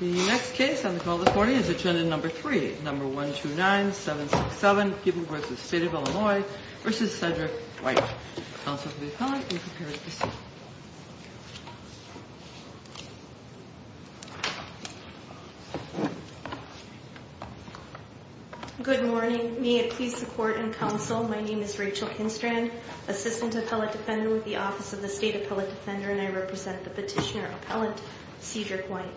The next case on the call to court is agenda number three, number 129-767, People v. State of Illinois v. Cedric White. Good morning. May it please the Court and Counsel, my name is Rachel Kinstrand, Assistant Appellate Defender with the Office of the State Appellate Defender, and I represent the Petitioner Appellate Cedric White.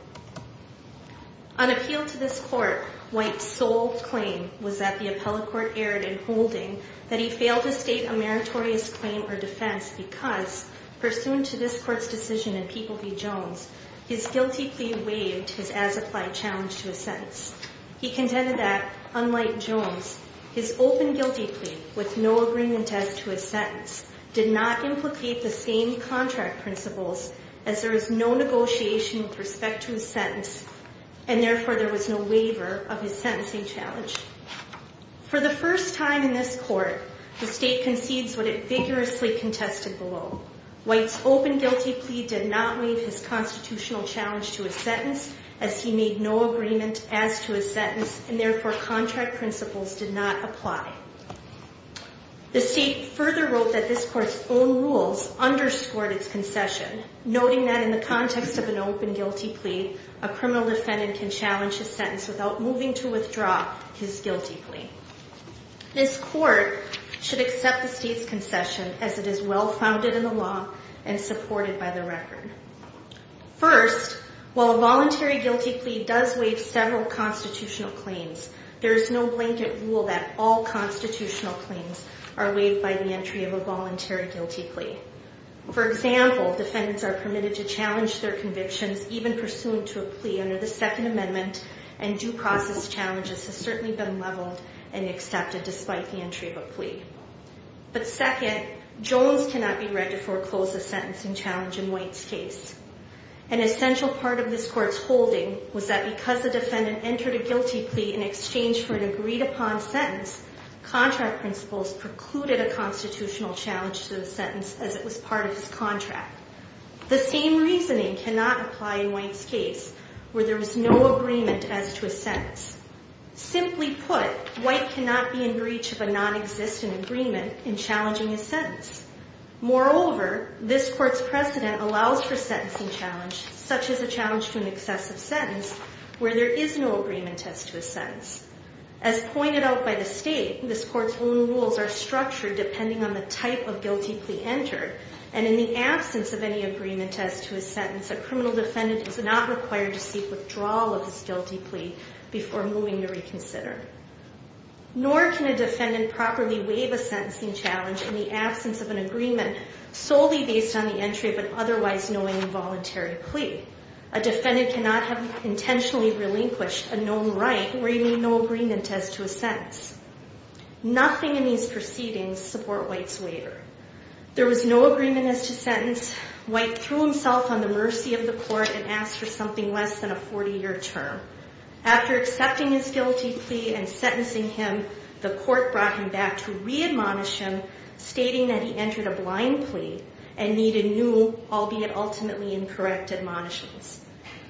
On appeal to this Court, White's sole claim was that the Appellate Court erred in holding that he failed to state a meritorious claim or defense because, pursuant to this Court's decision in People v. Jones, his guilty plea waived his as-applied challenge to a sentence. He contended that, unlike Jones, his open guilty plea, with no agreement as to his sentence, did not implicate the same contract principles as there is no negotiation with respect to his sentence, and therefore there was no waiver of his sentencing challenge. For the first time in this Court, the State concedes what it vigorously contested below. White's open guilty plea did not waive his constitutional challenge to a sentence as he made no agreement as to his sentence, and therefore contract principles did not apply. The State further wrote that this Court's own rules underscored its concession, noting that in the context of an open guilty plea, a criminal defendant can challenge his sentence without moving to withdraw his guilty plea. This Court should accept the State's concession as it is well-founded in the law and supported by the record. First, while a voluntary guilty plea does waive several constitutional claims, there is no blanket rule that all constitutional claims are waived by the entry of a voluntary guilty plea. For example, defendants are permitted to challenge their convictions, even pursuant to a plea under the Second Amendment, and due process challenges have certainly been leveled and accepted despite the entry of a plea. But second, Jones cannot be read to foreclose a sentencing challenge in White's case. An essential part of this Court's holding was that, because the defendant entered a guilty plea in exchange for an agreed-upon sentence, contract principles precluded a constitutional challenge to the sentence as it was part of his contract. The same reasoning cannot apply in White's case, where there was no agreement as to his sentence. Simply put, White cannot be in breach of a nonexistent agreement in challenging his sentence. Moreover, this Court's precedent allows for a sentencing challenge, such as a challenge to an excessive sentence, where there is no agreement as to his sentence. As pointed out by the State, this Court's own rules are structured depending on the type of guilty plea entered, and in the absence of any agreement as to his sentence, a criminal defendant is not required to seek withdrawal of his guilty plea before moving to reconsider. Nor can a defendant properly waive a sentencing challenge in the absence of an agreement solely based on the entry of an otherwise knowing involuntary plea. A defendant cannot have intentionally relinquished a known right where he made no agreement as to his sentence. Nothing in these proceedings support White's waiver. There was no agreement as to sentence. White threw himself on the mercy of the Court and asked for something less than a 40-year term. After accepting his guilty plea and sentencing him, the Court brought him back to re-admonish him, stating that he entered a blind plea and needed new, albeit ultimately incorrect, admonishments.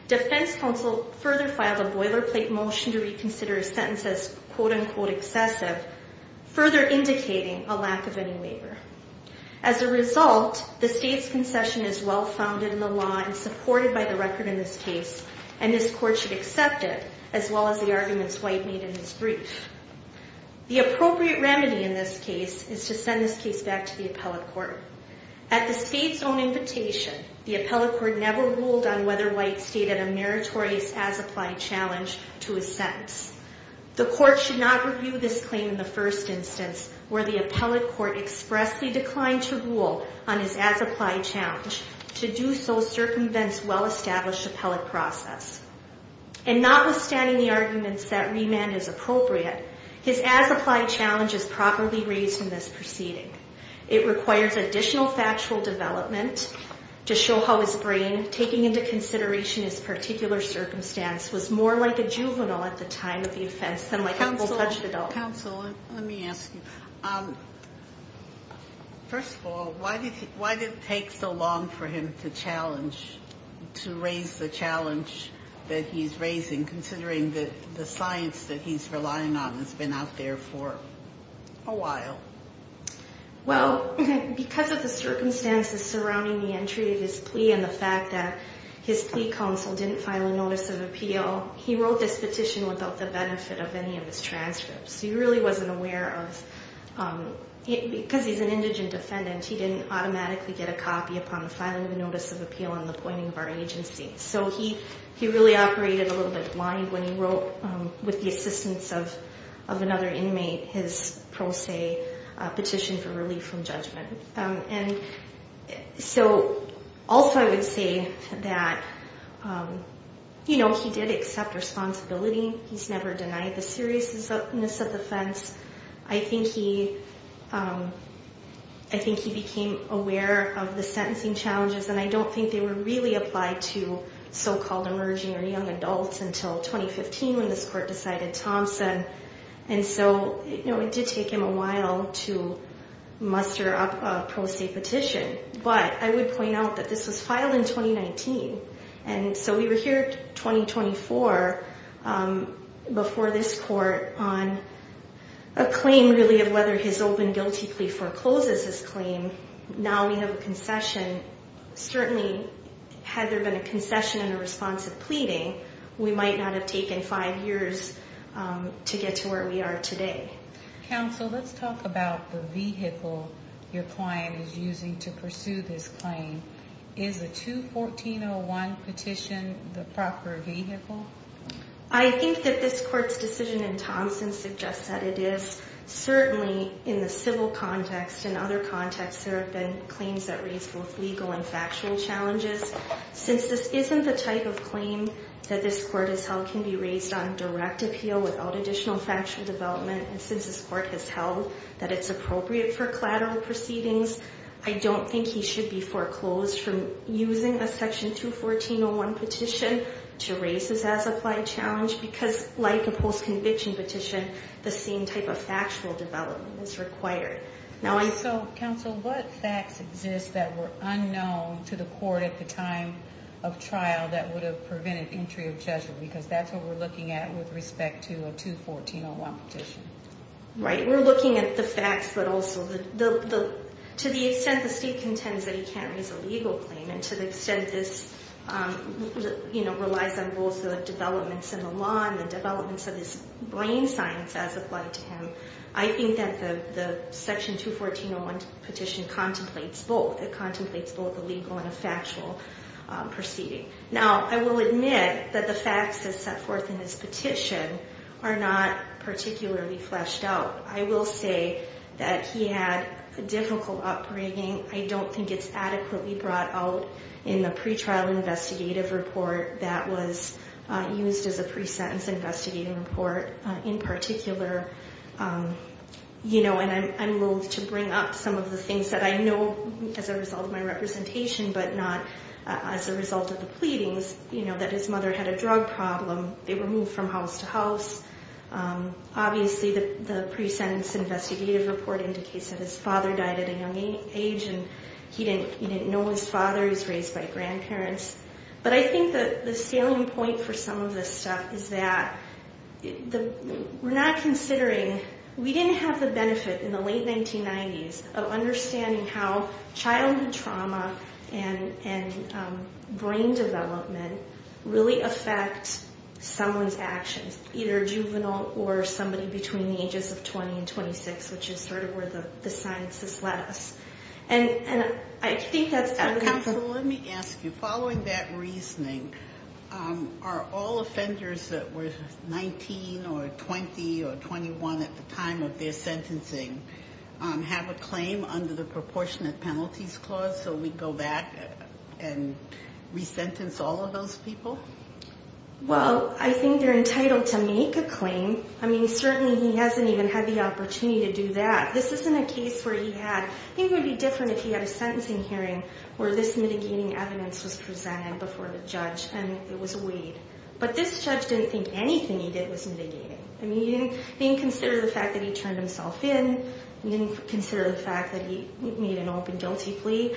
Defense counsel further filed a boilerplate motion to reconsider his sentence as quote-unquote excessive, further indicating a lack of any waiver. As a result, the State's concession is well-founded in the law and supported by the record in this case, and this Court should accept it, as well as the arguments White made in his brief. The appropriate remedy in this case is to send this case back to the Appellate Court. At the State's own invitation, the Appellate Court never ruled on whether White stated a meritorious as-applied challenge to his sentence. The Court should not review this claim in the first instance, where the Appellate Court expressly declined to rule on his as-applied challenge to do so circumvents well-established appellate process. And notwithstanding the arguments that remand is appropriate, his as-applied challenge is properly raised in this proceeding. It requires additional factual development to show how his brain, taking into consideration his particular circumstance, was more like a juvenile at the time of the offense than like a full-fledged adult. Counsel, let me ask you. First of all, why did it take so long for him to challenge, to raise the challenge that he's raising, considering that the science that he's relying on has been out there for a while? Well, because of the circumstances surrounding the entry of his plea and the fact that his plea counsel didn't file a notice of appeal, he wrote this petition without the benefit of any of his transcripts. He really wasn't aware of, because he's an indigent defendant, he didn't automatically get a copy upon the filing of a notice of appeal on the pointing of our agency. So he really operated a little bit blind when he wrote, with the assistance of another inmate, his pro se petition for relief from judgment. So also I would say that, you know, he did accept responsibility. He's never denied the seriousness of the offense. I think he became aware of the sentencing challenges, and I don't think they were really applied to so-called emerging or young adults until 2015 when this court decided Thompson. And so, you know, it did take him a while to muster up a pro se petition. But I would point out that this was filed in 2019. And so we were here 2024 before this court on a claim, really, of whether his open guilty plea forecloses his claim. Now we have a concession. Certainly, had there been a concession and a responsive pleading, we might not have taken five years to get to where we are today. Counsel, let's talk about the vehicle your client is using to pursue this claim. Is a 214-01 petition the proper vehicle? I think that this court's decision in Thompson suggests that it is. Certainly, in the civil context and other contexts, there have been claims that raise both legal and factual challenges. Since this isn't the type of claim that this court has held can be raised on direct appeal without additional factual development, and since this court has held that it's appropriate for collateral proceedings, I don't think he should be foreclosed from using a Section 214-01 petition to raise his as-applied challenge because, like a post-conviction petition, the same type of factual development is required. Counsel, what facts exist that were unknown to the court at the time of trial that would have prevented entry of judgment? Because that's what we're looking at with respect to a 214-01 petition. We're looking at the facts, but also to the extent the state contends that he can't raise a legal claim and to the extent this relies on both the developments in the law and the developments of his brain science as applied to him, I think that the Section 214-01 petition contemplates both. It contemplates both a legal and a factual proceeding. Now, I will admit that the facts that's set forth in this petition are not particularly fleshed out. I will say that he had a difficult upbringing. I don't think it's adequately brought out in the pretrial investigative report that was used as a pre-sentence investigative report. In particular, you know, and I'm loath to bring up some of the things that I know as a result of my representation, but not as a result of the pleadings, you know, that his mother had a drug problem. They were moved from house to house. Obviously, the pre-sentence investigative report indicates that his father died at a young age and he didn't know his father. He was raised by grandparents. But I think that the scaling point for some of this stuff is that we're not considering, we didn't have the benefit in the late 1990s of understanding how childhood trauma and brain development really affect someone's actions, either juvenile or somebody between the ages of 20 and 26, which is sort of where the sciences led us. Counsel, let me ask you, following that reasoning, are all offenders that were 19 or 20 or 21 at the time of their sentencing have a claim under the proportionate penalties clause so we go back and resentence all of those people? Well, I think they're entitled to make a claim. I mean, certainly he hasn't even had the opportunity to do that. This isn't a case where he had. I think it would be different if he had a sentencing hearing where this mitigating evidence was presented before the judge and it was weighed. But this judge didn't think anything he did was mitigating. I mean, he didn't consider the fact that he turned himself in. He didn't consider the fact that he made an open guilty plea.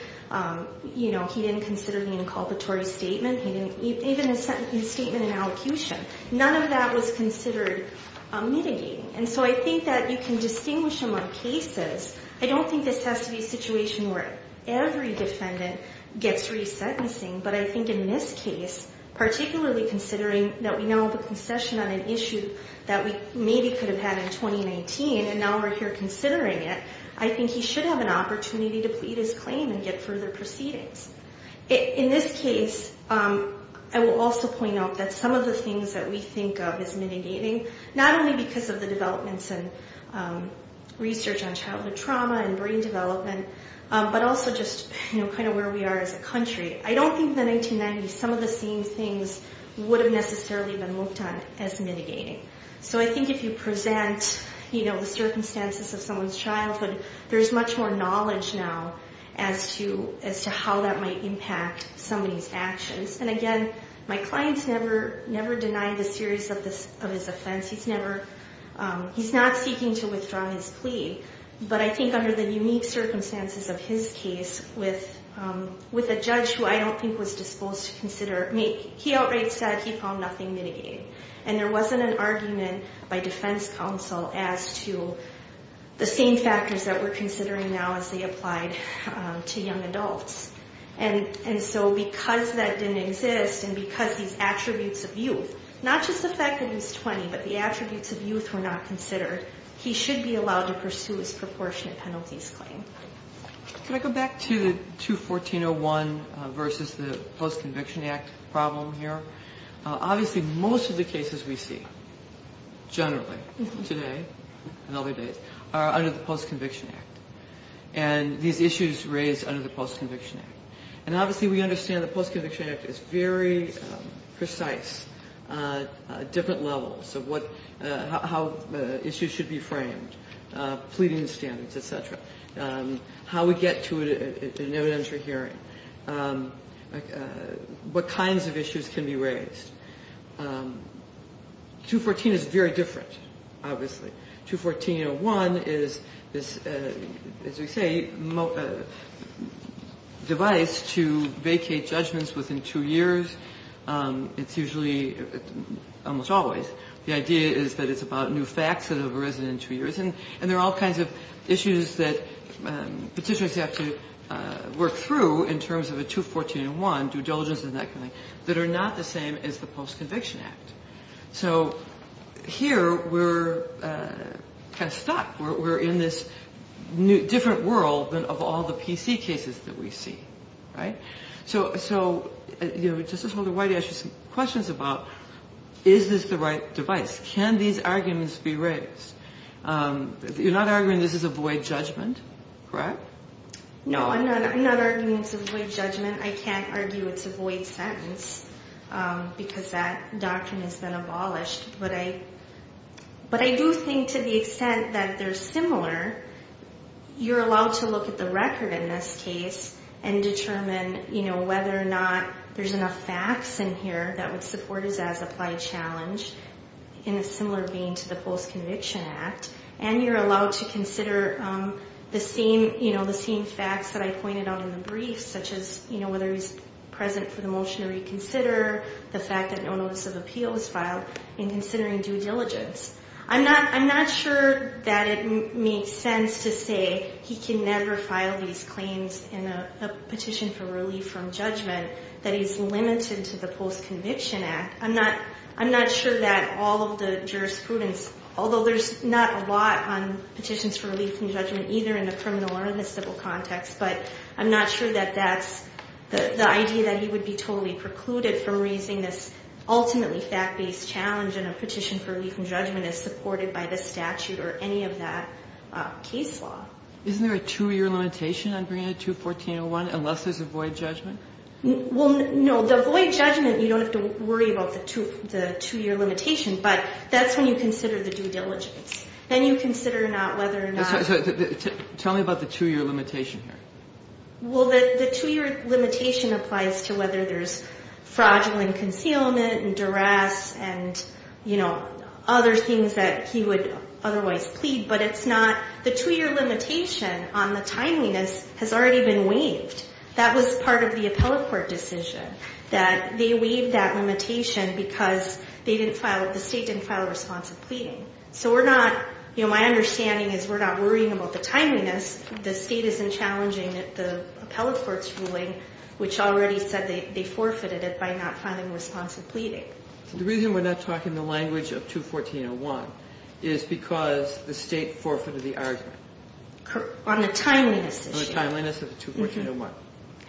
You know, he didn't consider it an inculpatory statement. He didn't even in a statement in allocution. None of that was considered mitigating. And so I think that you can distinguish among cases. I don't think this has to be a situation where every defendant gets resentencing, but I think in this case, particularly considering that we now have a concession on an issue that we maybe could have had in 2019 and now we're here considering it, I think he should have an opportunity to plead his claim and get further proceedings. In this case, I will also point out that some of the things that we think of as mitigating, not only because of the developments and research on childhood trauma and brain development, but also just kind of where we are as a country, I don't think the 1990s, some of the same things would have necessarily been looked at as mitigating. So I think if you present, you know, the circumstances of someone's childhood, there's much more knowledge now as to how that might impact somebody's actions. And again, my client's never denied a series of his offense. He's not seeking to withdraw his plea. But I think under the unique circumstances of his case with a judge who I don't think was disposed to consider, I mean, he outright said he found nothing mitigating. And there wasn't an argument by defense counsel as to the same factors that we're considering now as they applied to young adults. And so because that didn't exist and because these attributes of youth, not just the fact that he's 20, but the attributes of youth were not considered, he should be allowed to pursue his proportionate penalties claim. Can I go back to the 214-01 versus the Post-Conviction Act problem here? Obviously, most of the cases we see generally today and other days are under the Post-Conviction Act. And these issues raised under the Post-Conviction Act. And obviously, we understand the Post-Conviction Act is very precise, different levels of how issues should be framed, pleading standards, et cetera, how we get to an evidentiary hearing, what kinds of issues can be raised. 214 is very different, obviously. 214-01 is, as we say, a device to vacate judgments within two years. It's usually almost always. The idea is that it's about new facts that have arisen in two years. And there are all kinds of issues that Petitioners have to work through in terms of a 214-01, due diligence and that kind of thing, that are not the same as the Post-Conviction Act. So here, we're kind of stuck. We're in this different world than of all the PC cases that we see, right? So Justice Holder, why don't I ask you some questions about, is this the right device? Can these arguments be raised? You're not arguing this is a void judgment, correct? No, I'm not arguing it's a void judgment. I can't argue it's a void sentence because that doctrine has been abolished. But I do think to the extent that they're similar, you're allowed to look at the record in this case and determine whether or not there's enough facts in here that would support us as applied challenge in a similar vein to the Post-Conviction Act. And you're allowed to consider the same facts that I pointed out in the brief, such as whether he's present for the motion to reconsider, the fact that no notice of appeal was filed, and considering due diligence. I'm not sure that it makes sense to say he can never file these claims in a petition for relief from judgment that he's limited to the Post-Conviction Act. I'm not sure that all of the jurisprudence, although there's not a lot on petitions for relief from judgment either in the criminal or in the civil context, but I'm not sure that that's the idea that he would be totally precluded from raising this ultimately fact-based challenge in a petition for relief from judgment as supported by the statute or any of that case law. Isn't there a two-year limitation on Breanna 2-1401 unless there's a void judgment? Well, no. The void judgment, you don't have to worry about the two-year limitation, but that's when you consider the due diligence. Then you consider whether or not... Tell me about the two-year limitation here. Well, the two-year limitation applies to whether there's fraudulent concealment and duress and other things that he would otherwise plead, but it's not... The two-year limitation on the timeliness has already been waived. That was part of the appellate court decision, that they waived that limitation because the State didn't file a response of pleading. So we're not... My understanding is we're not worrying about the timeliness. The State isn't challenging the appellate court's ruling, which already said they forfeited it by not filing a response of pleading. The reason we're not talking the language of 2-1401 is because the State forfeited the argument. On the timeliness issue. On the timeliness of the 2-1401.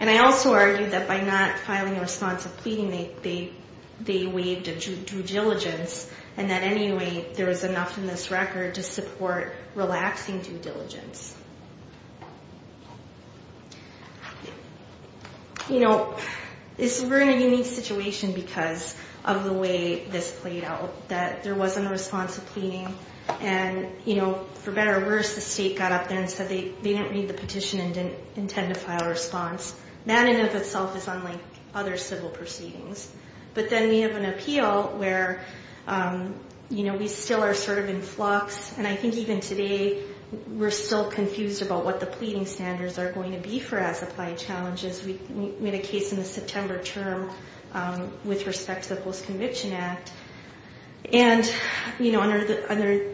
And I also argue that by not filing a response of pleading, they waived a due diligence and that anyway there was enough in this record to support relaxing due diligence. You know, we're in a unique situation because of the way this played out, that there wasn't a response of pleading, and for better or worse, the State got up there and said they didn't read the petition and didn't intend to file a response. That in and of itself is unlike other civil proceedings. But then we have an appeal where, you know, we still are sort of in flux, and I think even today we're still confused about what the pleading standards are going to be for as-applied challenges. We had a case in the September term with respect to the Post-Conviction Act. And, you know, under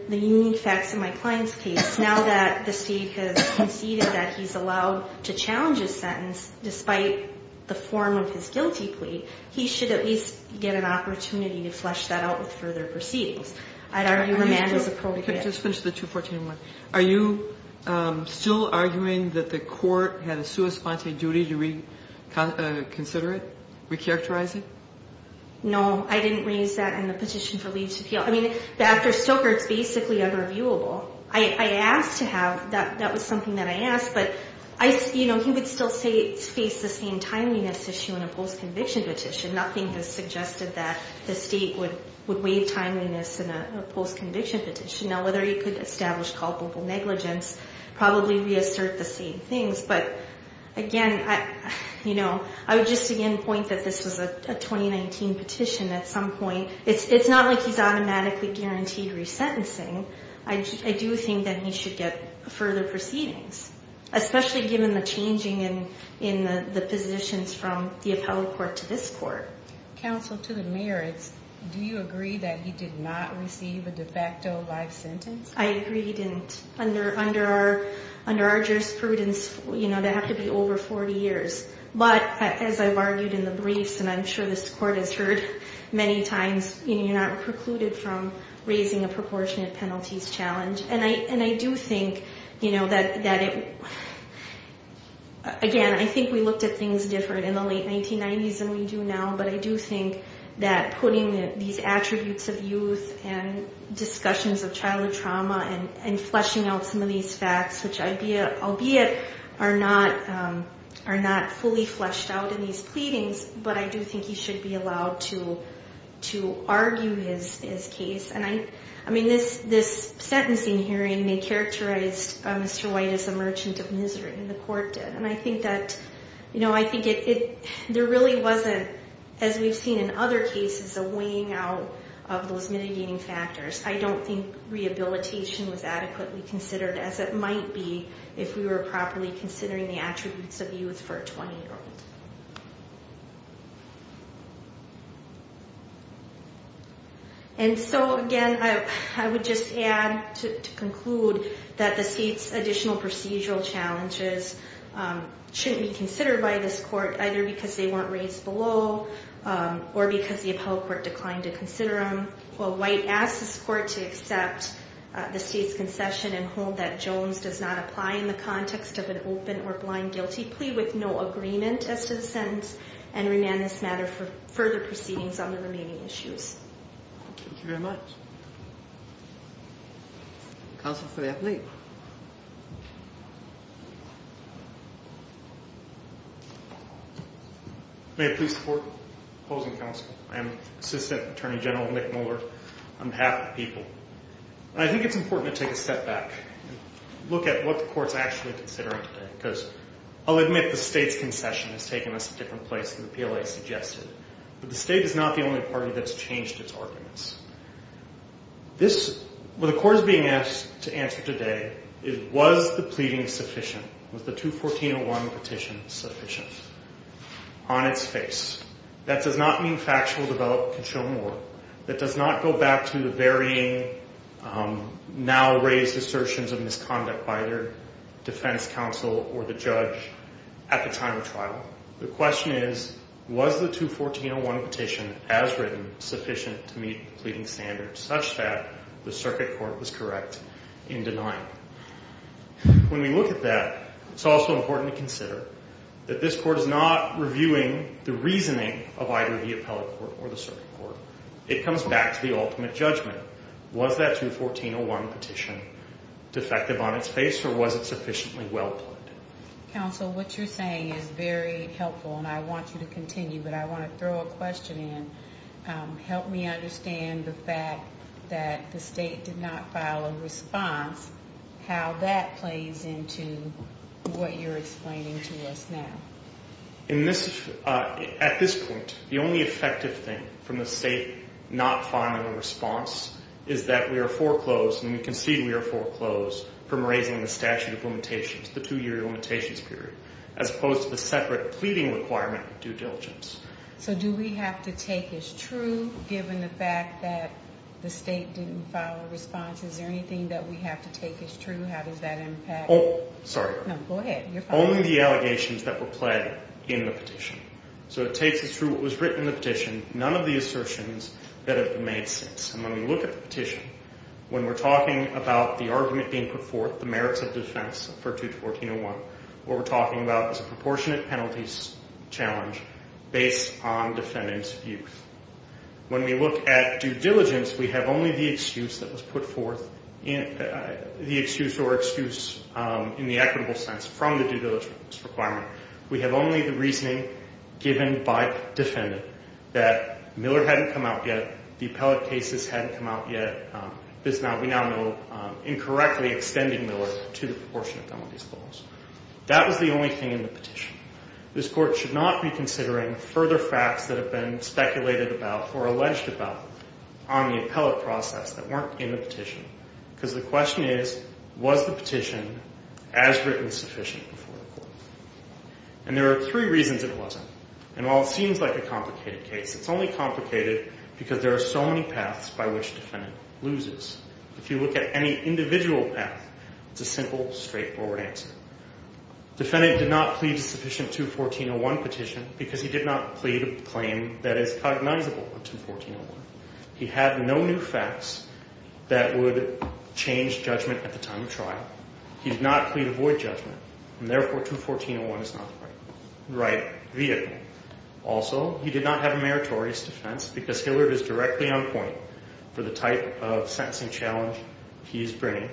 the unique facts in my client's case, now that the State has conceded that he's allowed to challenge his sentence despite the form of his guilty plea, he should at least get an opportunity to flesh that out with further proceedings. I'd argue remand is appropriate. Just finish the 2-1401. Are you still arguing that the court had a sua sponte duty to reconsider it, recharacterize it? No. I didn't raise that in the petition for leave to appeal. I mean, after Stoker, it's basically unreviewable. I asked to have that. That was something that I asked. But, you know, he would still face the same timeliness issue in a post-conviction petition. Nothing has suggested that the State would waive timeliness in a post-conviction petition. Now, whether he could establish culpable negligence, probably reassert the same things. But, again, you know, I would just again point that this was a 2019 petition at some point. It's not like he's automatically guaranteed resentencing. I do think that he should get further proceedings, especially given the changing in the positions from the appellate court to this court. Counsel, to the merits, do you agree that he did not receive a de facto life sentence? I agree he didn't. Under our jurisprudence, you know, that would have to be over 40 years. But, as I've argued in the briefs, and I'm sure this court has heard many times, you're not precluded from raising a proportionate penalties challenge. And I do think, you know, that it, again, I think we looked at things different in the late 1990s than we do now. But I do think that putting these attributes of youth and discussions of childhood trauma and fleshing out some of these facts, which albeit are not fully fleshed out in these pleadings, but I do think he should be allowed to argue his case. And, I mean, this sentencing hearing, they characterized Mr. White as a merchant of misery, and the court did. And I think that, you know, I think there really wasn't, as we've seen in other cases, a weighing out of those mitigating factors. I don't think rehabilitation was adequately considered, as it might be, if we were properly considering the attributes of youth for a 20-year-old. And so, again, I would just add to conclude that the state's additional procedural challenges shouldn't be considered by this court, either because they weren't raised below or because the appellate court declined to consider them. While White asked this court to accept the state's concession and hold that Jones does not apply in the context of an open or blind guilty plea with no agreement as to the sentence and remand this matter for further proceedings on the remaining issues. Thank you very much. Counsel for the appellate. May I please support the opposing counsel? I am Assistant Attorney General Nick Moeller on behalf of the people. I think it's important to take a step back and look at what the court's actually considering today, because I'll admit the state's concession has taken us to a different place than the PLA suggested. But the state is not the only party that's changed its arguments. This, what the court is being asked to answer today is, was the pleading sufficient? Was the 214-01 petition sufficient? On its face. That does not mean factual development can show more. That does not go back to the varying now raised assertions of misconduct by their defense counsel or the judge at the time of trial. The question is, was the 214-01 petition as written sufficient to meet the pleading standards such that the circuit court was correct in denying? When we look at that, it's also important to consider that this court is not reviewing the reasoning of either the appellate court or the circuit court. It comes back to the ultimate judgment. Was that 214-01 petition defective on its face, or was it sufficiently well pledged? Counsel, what you're saying is very helpful, and I want you to continue, but I want to throw a question in. Help me understand the fact that the state did not file a response, how that plays into what you're explaining to us now. At this point, the only effective thing from the state not filing a response is that we are foreclosed, and we concede we are foreclosed from raising the statute of limitations, the two-year limitations period, as opposed to the separate pleading requirement of due diligence. So do we have to take as true, given the fact that the state didn't file a response? Is there anything that we have to take as true? How does that impact? Oh, sorry. No, go ahead. Only the allegations that were pledged in the petition. So it takes as true what was written in the petition, none of the assertions that have made sense. And when we look at the petition, when we're talking about the argument being put forth, the merits of defense for 214-01, what we're talking about is a proportionate penalties challenge based on defendant's views. When we look at due diligence, we have only the excuse that was put forth, the excuse or excuse in the equitable sense from the due diligence requirement. We have only the reasoning given by defendant that Miller hadn't come out yet, the appellate cases hadn't come out yet, we now know incorrectly extending Miller to the proportionate penalties clause. That was the only thing in the petition. This Court should not be considering further facts that have been speculated about or alleged about on the appellate process that weren't in the petition because the question is, was the petition as written sufficient before the Court? And there are three reasons it wasn't. And while it seems like a complicated case, it's only complicated because there are so many paths by which defendant loses. If you look at any individual path, it's a simple, straightforward answer. Defendant did not plead a sufficient 214-01 petition because he did not plead a claim that is cognizable on 214-01. He had no new facts that would change judgment at the time of trial. He did not plead a void judgment, and therefore 214-01 is not the right vehicle. Also, he did not have a meritorious defense because Hilliard is directly on point for the type of sentencing challenge he is bringing.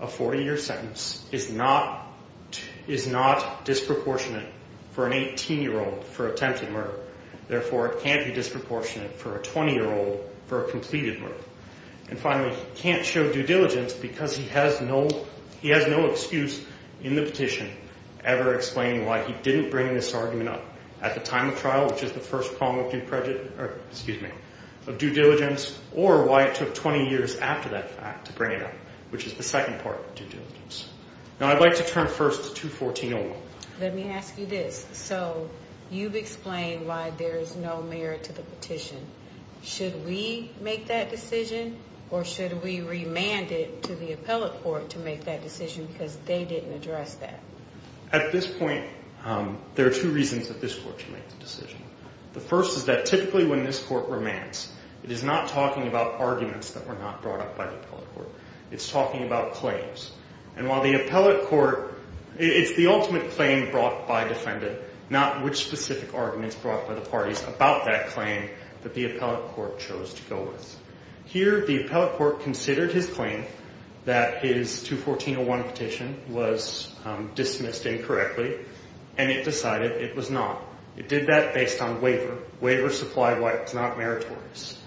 A 40-year sentence is not disproportionate for an 18-year-old for attempted murder. Therefore, it can't be disproportionate for a 20-year-old for a completed murder. And finally, he can't show due diligence because he has no excuse in the petition ever explaining why he didn't bring this argument up at the time of trial, which is the first prong of due diligence, or why it took 20 years after that fact to bring it up, which is the second part of due diligence. Now, I'd like to turn first to 214-01. Let me ask you this. So you've explained why there is no merit to the petition. Should we make that decision, or should we remand it to the appellate court to make that decision because they didn't address that? At this point, there are two reasons that this court should make the decision. The first is that typically when this court remands, it is not talking about arguments that were not brought up by the appellate court. It's talking about claims. And while the appellate court, it's the ultimate claim brought by defendant, not which specific arguments brought by the parties about that claim that the appellate court chose to go with. Here, the appellate court considered his claim that his 214-01 petition was dismissed incorrectly, and it decided it was not. It did that based on waiver. Waiver supply of life is not meritorious.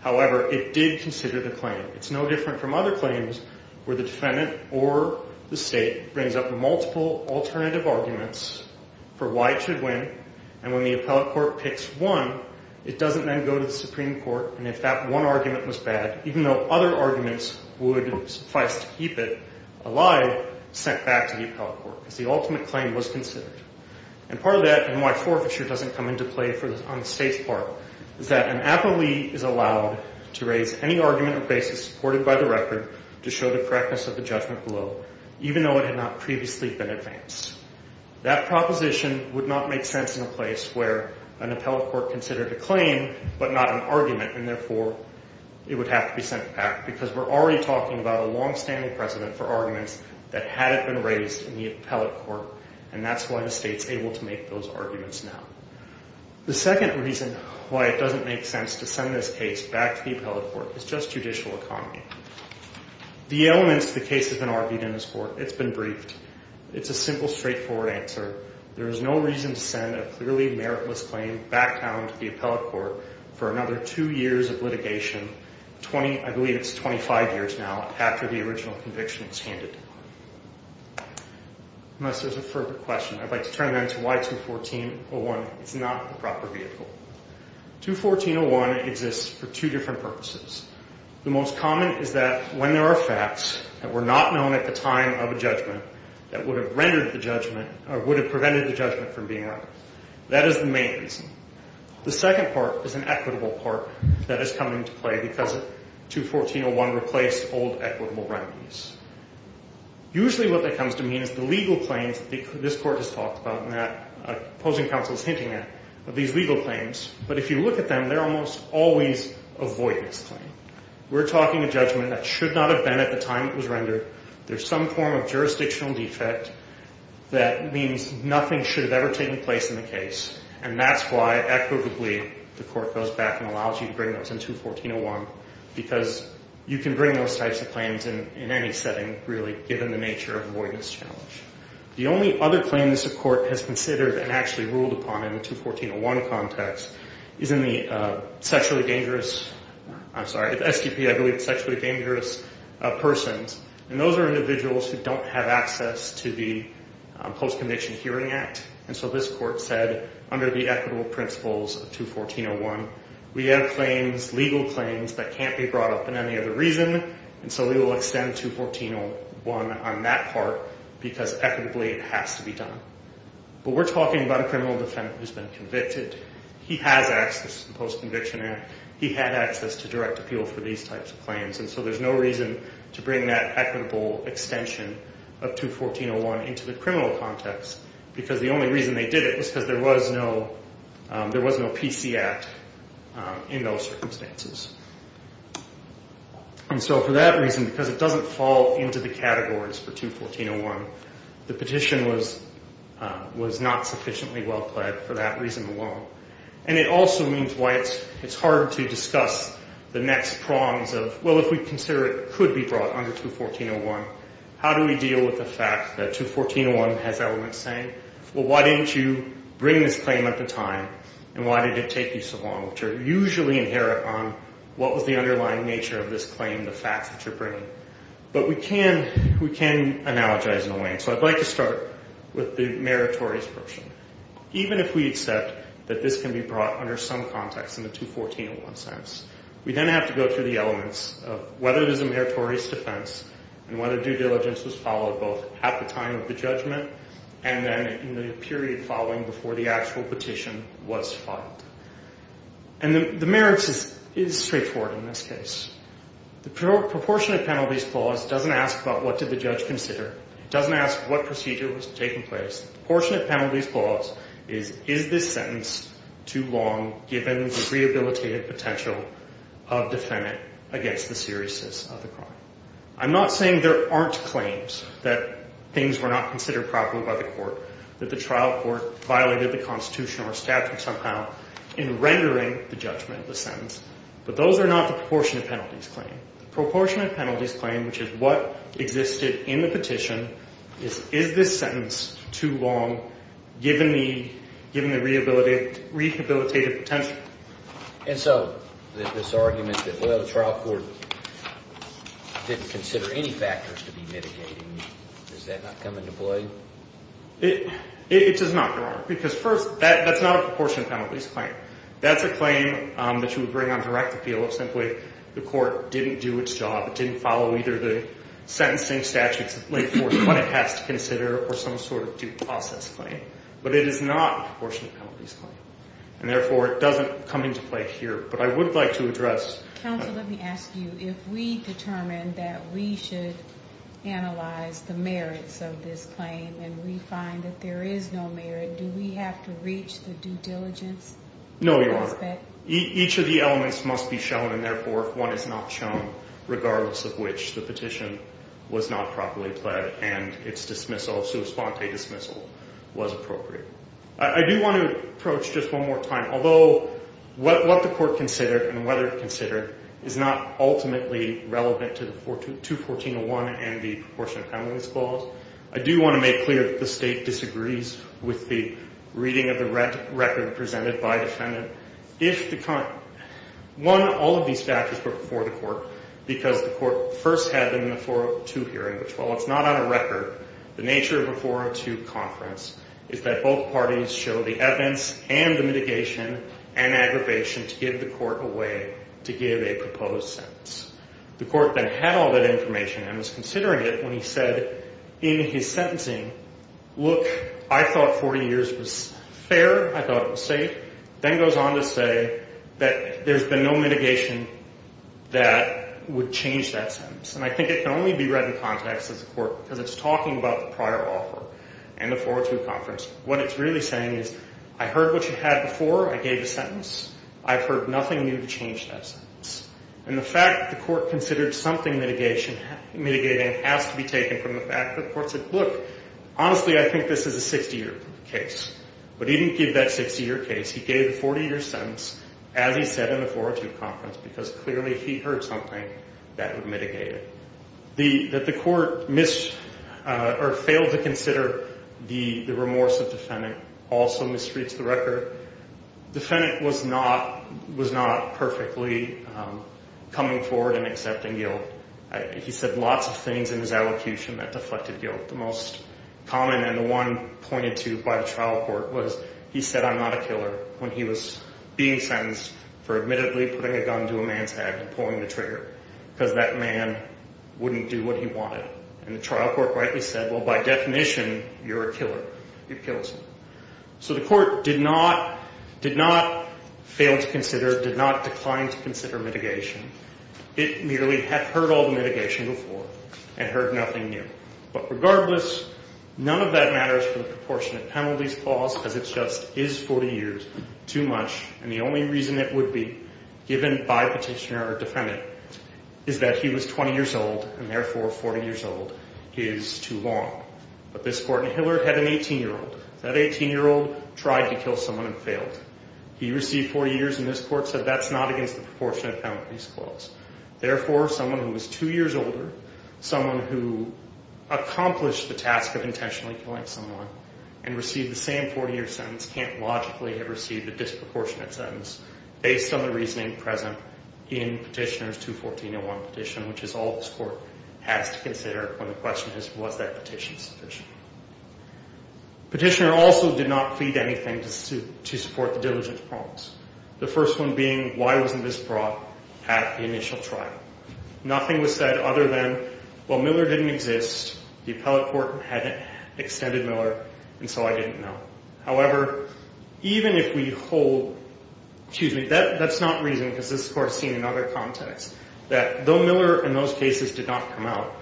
However, it did consider the claim. It's no different from other claims where the defendant or the state brings up multiple alternative arguments for why it should win, and when the appellate court picks one, it doesn't then go to the Supreme Court. And if that one argument was bad, even though other arguments would suffice to keep it alive, it's sent back to the appellate court because the ultimate claim was considered. And part of that and why forfeiture doesn't come into play on the state's part is that an appellee is allowed to raise any argument or basis supported by the record to show the correctness of the judgment below, even though it had not previously been advanced. That proposition would not make sense in a place where an appellate court considered a claim but not an argument, and therefore it would have to be sent back because we're already talking about a longstanding precedent for arguments that hadn't been raised in the appellate court, and that's why the state's able to make those arguments now. The second reason why it doesn't make sense to send this case back to the appellate court is just judicial economy. The elements of the case have been argued in this court. It's been briefed. It's a simple, straightforward answer. There is no reason to send a clearly meritless claim back down to the appellate court for another two years of litigation, I believe it's 25 years now after the original conviction was handed. Unless there's a further question, I'd like to turn then to why 214.01 is not the proper vehicle. 214.01 exists for two different purposes. The most common is that when there are facts that were not known at the time of a judgment that would have rendered the judgment or would have prevented the judgment from being rendered. That is the main reason. The second part is an equitable part that has come into play because 214.01 replaced old equitable remedies. Usually what that comes to mean is the legal claims that this court has talked about and that opposing counsel is hinting at are these legal claims, but if you look at them, they're almost always a voidless claim. We're talking a judgment that should not have been at the time it was rendered. There's some form of jurisdictional defect that means nothing should have ever taken place in the case, and that's why equitably the court goes back and allows you to bring those into 214.01 because you can bring those types of claims in any setting, really, given the nature of a voidless challenge. The only other claims the court has considered and actually ruled upon in the 214.01 context is in the sexually dangerous, I'm sorry, the SDP, I believe, sexually dangerous persons, and those are individuals who don't have access to the Post-Conviction Hearing Act, and so this court said under the equitable principles of 214.01, we have claims, legal claims, that can't be brought up in any other reason, and so we will extend 214.01 on that part because equitably it has to be done. But we're talking about a criminal defendant who's been convicted. He has access to the Post-Conviction Act. He had access to direct appeal for these types of claims, and so there's no reason to bring that equitable extension of 214.01 into the criminal context because the only reason they did it was because there was no PC Act in those circumstances. And so for that reason, because it doesn't fall into the categories for 214.01, the petition was not sufficiently well-pled for that reason alone, and it also means why it's hard to discuss the next prongs of, well, if we consider it could be brought under 214.01, how do we deal with the fact that 214.01 has elements saying, well, why didn't you bring this claim at the time and why did it take you so long, which are usually inherent on what was the underlying nature of this claim, the facts that you're bringing. But we can analogize in a way, and so I'd like to start with the meritorious version. Even if we accept that this can be brought under some context in the 214.01 sense, we then have to go through the elements of whether it is a meritorious defense and whether due diligence was followed both at the time of the judgment and then in the period following before the actual petition was filed. And the merits is straightforward in this case. The proportionate penalties clause doesn't ask about what did the judge consider. It doesn't ask what procedure was taking place. The proportionate penalties clause is is this sentence too long given the rehabilitative potential of defendant against the seriousness of the crime. I'm not saying there aren't claims that things were not considered properly by the court, that the trial court violated the Constitution or statute somehow in rendering the judgment of the sentence, but those are not the proportionate penalties claim. The proportionate penalties claim, which is what existed in the petition, is is this sentence too long given the rehabilitative potential. And so this argument that the trial court didn't consider any factors to be mitigating, does that not come into play? It does not, Your Honor, because first, that's not a proportionate penalties claim. That's a claim that you would bring on direct appeal if simply the court didn't do its job, didn't follow either the sentencing statutes laid forth what it has to consider or some sort of due process claim. But it is not a proportionate penalties claim, and therefore it doesn't come into play here. But I would like to address— Counsel, let me ask you, if we determine that we should analyze the merits of this claim and we find that there is no merit, do we have to reach the due diligence aspect? No, Your Honor. Each of the elements must be shown, and therefore if one is not shown, regardless of which the petition was not properly pled and its dismissal, sua sponte dismissal, was appropriate. I do want to approach just one more time. Although what the court considered and whether it considered is not ultimately relevant to 21401 and the proportionate penalties clause, I do want to make clear that the State disagrees with the reading of the record presented by a defendant. One, all of these factors were before the court because the court first had them in the 402 hearing, which while it's not on a record, the nature of a 402 conference is that both parties show the evidence and the mitigation and aggravation to give the court a way to give a proposed sentence. The court then had all that information and was considering it when he said in his sentencing, look, I thought 40 years was fair, I thought it was safe, then goes on to say that there's been no mitigation that would change that sentence. And I think it can only be read in context as a court because it's talking about the prior offer and the 402 conference. What it's really saying is I heard what you had before, I gave a sentence. I've heard nothing new to change that sentence. And the fact that the court considered something mitigating has to be taken from the fact that the court said, look, honestly I think this is a 60-year case. But he didn't give that 60-year case. He gave the 40-year sentence as he said in the 402 conference because clearly if he heard something, that would mitigate it. That the court missed or failed to consider the remorse of the defendant also mistreats the record. The defendant was not perfectly coming forward and accepting guilt. He said lots of things in his allocution that deflected guilt. The most common and the one pointed to by the trial court was he said I'm not a killer when he was being sentenced for admittedly putting a gun to a man's head and pulling the trigger because that man wouldn't do what he wanted. And the trial court rightly said, well, by definition, you're a killer. It kills him. So the court did not fail to consider, did not decline to consider mitigation. It merely had heard all the mitigation before and heard nothing new. But regardless, none of that matters for the proportionate penalties clause because it just is 40 years too much. And the only reason it would be given by petitioner or defendant is that he was 20 years old and therefore 40 years old is too long. But this court in Hiller had an 18-year-old. That 18-year-old tried to kill someone and failed. He received 40 years and this court said that's not against the proportionate penalties clause. Therefore, someone who was 2 years older, someone who accomplished the task of intentionally killing someone and received the same 40-year sentence can't logically have received a disproportionate sentence based on the reasoning present in petitioner's 214-01 petition, which is all this court has to consider when the question is was that petition sufficient. Petitioner also did not plead anything to support the diligence clause, the first one being why wasn't this brought at the initial trial. Nothing was said other than, well, Miller didn't exist, the appellate court hadn't extended Miller, and so I didn't know. However, even if we hold, excuse me, that's not reason because this court's seen in other contexts that though Miller in those cases did not come out,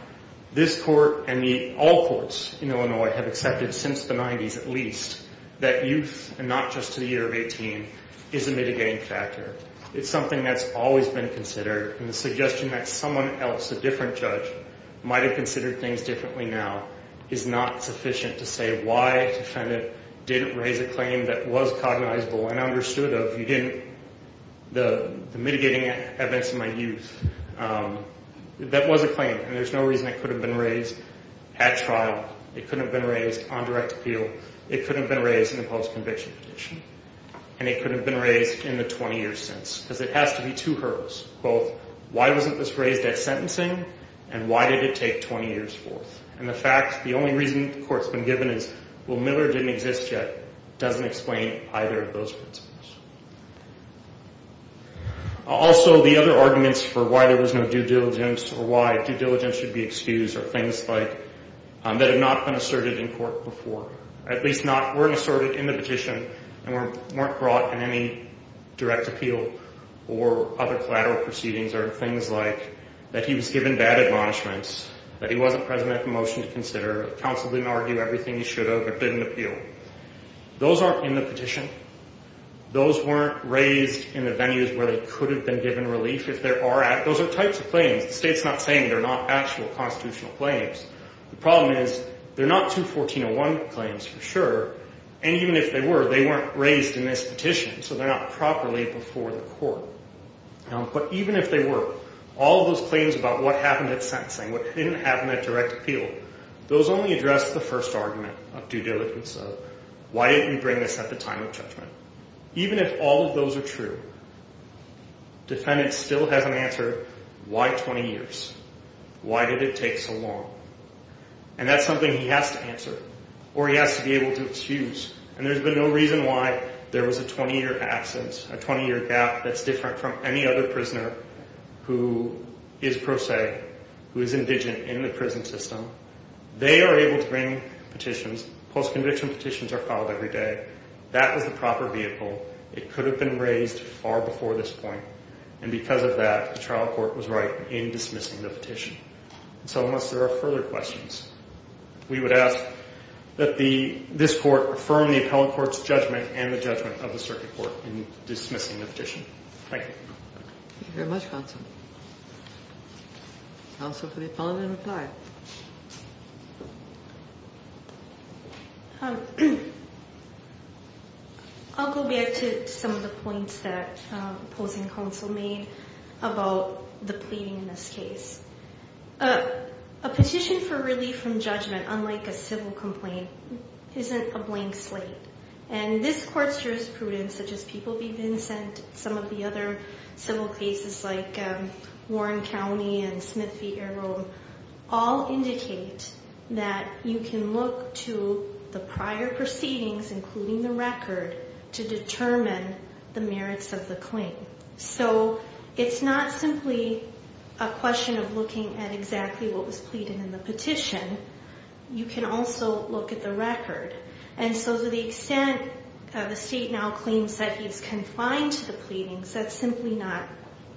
this court and all courts in Illinois have accepted since the 90s at least that youth and not just to the year of 18 is a mitigating factor. It's something that's always been considered, and the suggestion that someone else, a different judge, might have considered things differently now is not sufficient to say why defendant didn't raise a claim that was cognizable and understood of. You didn't, the mitigating events in my youth, that was a claim and there's no reason it could have been raised at trial. It couldn't have been raised on direct appeal. It couldn't have been raised in a post-conviction petition, and it couldn't have been raised in the 20 years since because it has to be two hurdles, both why wasn't this raised at sentencing and why did it take 20 years forth? And the fact, the only reason the court's been given is, well, Miller didn't exist yet, doesn't explain either of those principles. Also, the other arguments for why there was no due diligence or why due diligence should be excused are things like that have not been asserted in court before, at least not were asserted in the petition and weren't brought in any direct appeal or other collateral proceedings are things like that he was given bad admonishments, that he wasn't present at the motion to consider, counsel didn't argue everything he should have or didn't appeal. Those aren't in the petition. Those weren't raised in the venues where they could have been given relief. Those are types of claims. The state's not saying they're not actual constitutional claims. The problem is they're not 214.01 claims for sure, and even if they were, they weren't raised in this petition, so they're not properly before the court. But even if they were, all those claims about what happened at sentencing, what didn't happen at direct appeal, those only address the first argument of due diligence, of why didn't we bring this at the time of judgment. Even if all of those are true, defendant still has an answer, why 20 years? Why did it take so long? And that's something he has to answer or he has to be able to excuse, and there's been no reason why there was a 20-year absence, a 20-year gap that's different from any other prisoner who is pro se, who is indigent in the prison system. They are able to bring petitions. Post-conviction petitions are filed every day. That was the proper vehicle. It could have been raised far before this point, and because of that the trial court was right in dismissing the petition. So unless there are further questions, we would ask that this court affirm the appellant court's judgment and the judgment of the circuit court in dismissing the petition. Thank you. Thank you very much, counsel. Counsel for the appellant in reply. I'll go back to some of the points that opposing counsel made about the pleading in this case. A petition for relief from judgment, unlike a civil complaint, isn't a blank slate, and this court's jurisprudence, such as people being sent, some of the other civil cases like Warren County and Smith v. all indicate that you can look to the prior proceedings, including the record, to determine the merits of the claim. So it's not simply a question of looking at exactly what was pleaded in the petition. You can also look at the record. And so to the extent the state now claims that he's confined to the pleadings, that's simply not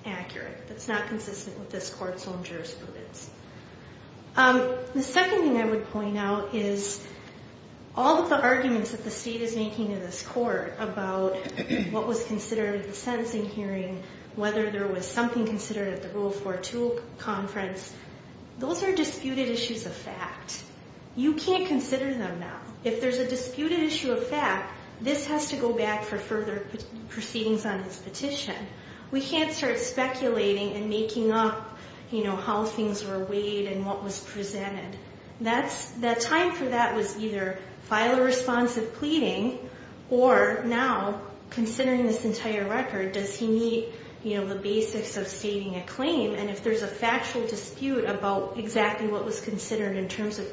accurate. That's not consistent with this court's own jurisprudence. The second thing I would point out is all of the arguments that the state is making in this court about what was considered at the sentencing hearing, whether there was something considered at the Rule 42 conference, those are disputed issues of fact. You can't consider them now. If there's a disputed issue of fact, this has to go back for further proceedings on his petition. We can't start speculating and making up, you know, how things were weighed and what was presented. The time for that was either file a responsive pleading or now, considering this entire record, does he need, you know, the basics of stating a claim? And if there's a factual dispute about exactly what was considered in terms of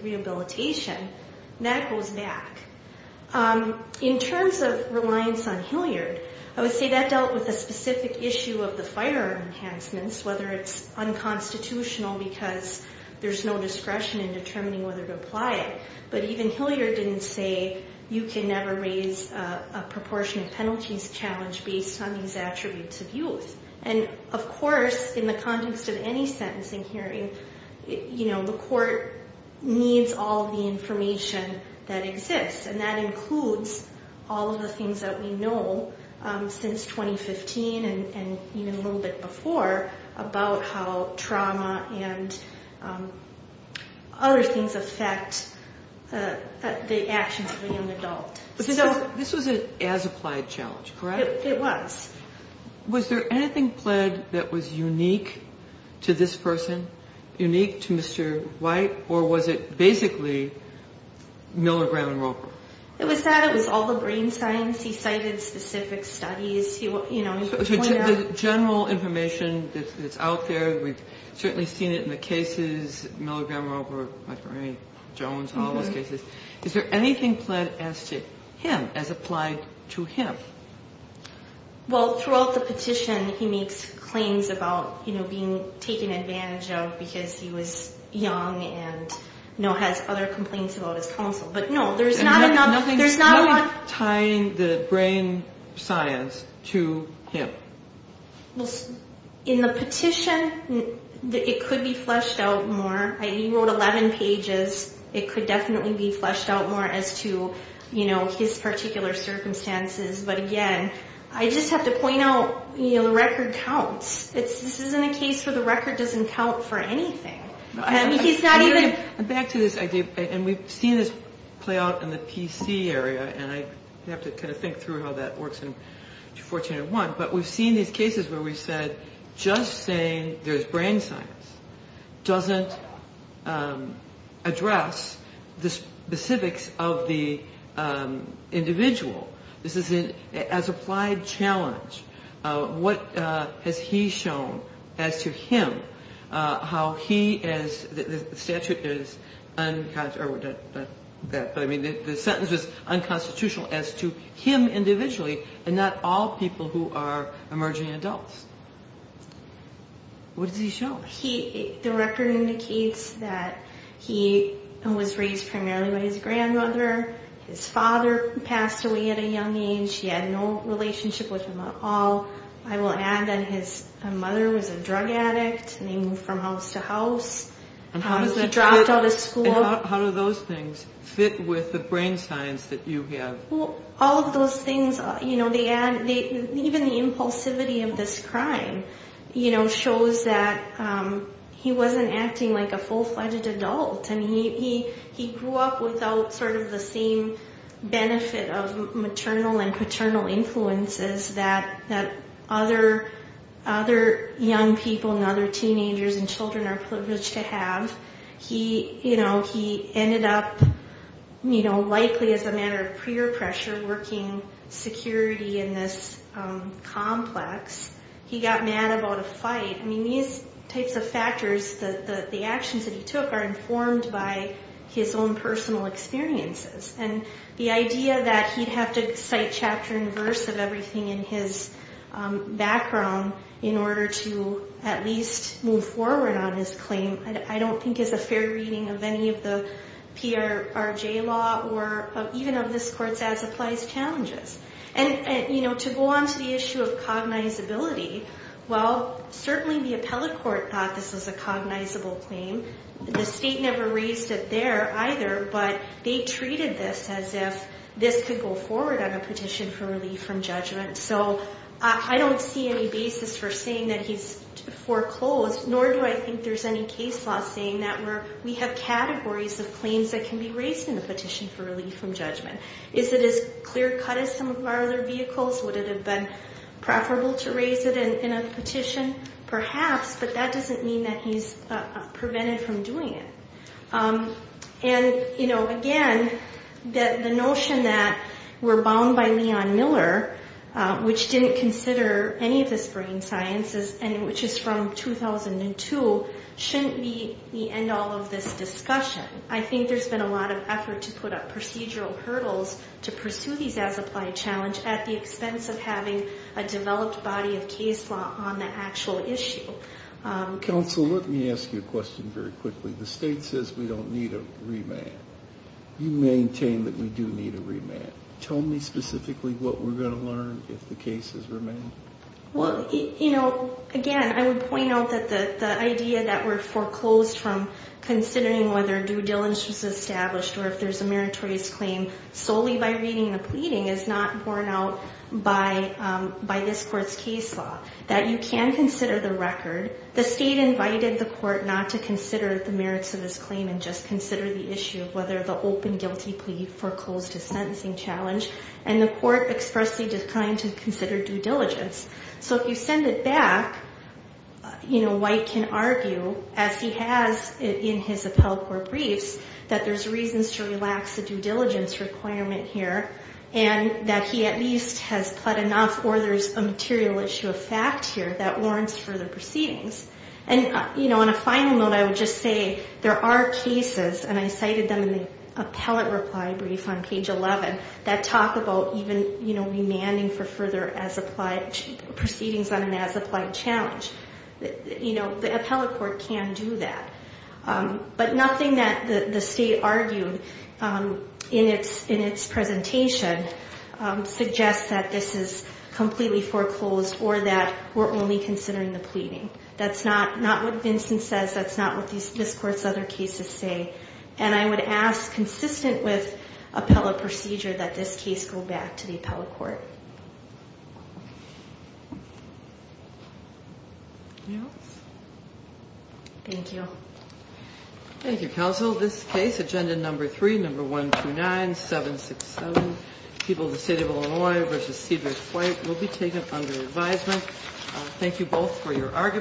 In terms of reliance on Hilliard, I would say that dealt with a specific issue of the firearm enhancements, whether it's unconstitutional because there's no discretion in determining whether to apply it. But even Hilliard didn't say you can never raise a proportionate penalties challenge based on these attributes of youth. And of course, in the context of any sentencing hearing, you know, the court needs all the information that exists. And that includes all of the things that we know since 2015 and even a little bit before about how trauma and other things affect the actions of a young adult. This was an as applied challenge, correct? It was. Was there anything pled that was unique to this person, unique to Mr. White or was it basically milligram and Roper? It was sad. It was all the brain science. He cited specific studies. You know, the general information that's out there. We've certainly seen it in the cases, milligram over Jones and all those cases. Is there anything planned as to him as applied to him? Well, throughout the petition he makes claims about, you know, being taken advantage of because he was young and, you know, has other complaints about his counsel, but no, there's not enough. There's not tying the brain science to him in the petition. It could be fleshed out more. He wrote 11 pages. It could definitely be fleshed out more as to, you know, his particular circumstances. But again, I just have to point out, you know, the record counts. This isn't a case where the record doesn't count for anything. He's not even. Back to this idea, and we've seen this play out in the PC area, and I have to kind of think through how that works in 1401, but we've seen these cases where we said just saying there's brain science doesn't address the specifics of the individual. This isn't as applied challenge. What has he shown as to him, how he is, the statute is, I mean, the sentence was unconstitutional as to him individually and not all people who are emerging adults. What does he show? The record indicates that he was raised primarily by his grandmother. His father passed away at a young age. He had no relationship with him at all. I will add that his mother was a drug addict, and they moved from house to house. He dropped out of school. How do those things fit with the brain science that you have? All of those things, you know, they add, even the impulsivity of this crime, you know, shows that he wasn't acting like a full-fledged adult. I mean, he grew up without sort of the same benefit of maternal and paternal influences that other young people and other teenagers and children are privileged to have. He, you know, he ended up, you know, likely as a matter of peer pressure working security in this complex. He got mad about a fight. I mean, these types of factors, the actions that he took are informed by his own personal experiences. And the idea that he'd have to cite chapter and verse of everything in his background in order to at least move forward on his claim, I don't think is a fair reading of any of the PRJ law or even of this court's as applies challenges. And, you know, to go on to the issue of cognizability. Well, certainly the appellate court thought this was a cognizable claim. The state never raised it there either, but they treated this as if this could go forward on a petition for relief from judgment. So I don't see any basis for saying that he's foreclosed, nor do I think there's any case law saying that where we have categories of claims that can be raised in the petition for relief from judgment. Is it as clear cut as some of our other vehicles? Would it have been preferable to raise it in a petition? Perhaps, but that doesn't mean that he's prevented from doing it. And, you know, again, the notion that we're bound by Leon Miller, which didn't consider any of this brain sciences, and which is from 2002, shouldn't be the end all of this discussion. I think there's been a lot of effort to put up procedural hurdles to pursue these as applied challenge at the expense of having a developed body of case law on the actual issue. Counsel, let me ask you a question very quickly. The state says we don't need a remand. You maintain that we do need a remand. Tell me specifically what we're going to learn if the case is remanded. Well, you know, again, I would point out that the idea that we're foreclosed from considering whether due diligence was established, or if there's a meritorious claim solely by reading the pleading is not borne out by this court's case law, that you can consider the record. The state invited the court not to consider the merits of this claim and just consider the issue of whether the open guilty plea foreclosed to sentencing challenge, and the court expressly declined to consider due diligence. So if you send it back, you know, White can argue, as he has in his appellate court briefs, that there's reasons to relax the due diligence requirement here, and that he at least has pled enough or there's a material issue of fact here that warrants further proceedings. And, you know, on a final note, I would just say there are cases, and I cited them in the appellate reply brief on page 11, that talk about even, you know, demanding for further as-applied proceedings on an as-applied challenge. You know, the appellate court can do that. But nothing that the state argued in its presentation suggests that this is completely foreclosed or that we're only considering the pleading. That's not what Vincent says. That's not what this court's other cases say. And I would ask, consistent with appellate procedure, that this case go back to the appellate court. Anything else? Thank you. Thank you, counsel. This case, Agenda Number 3, Number 129767, People of the State of Illinois v. Cedric White, will be taken under advisement. Thank you both for your arguments.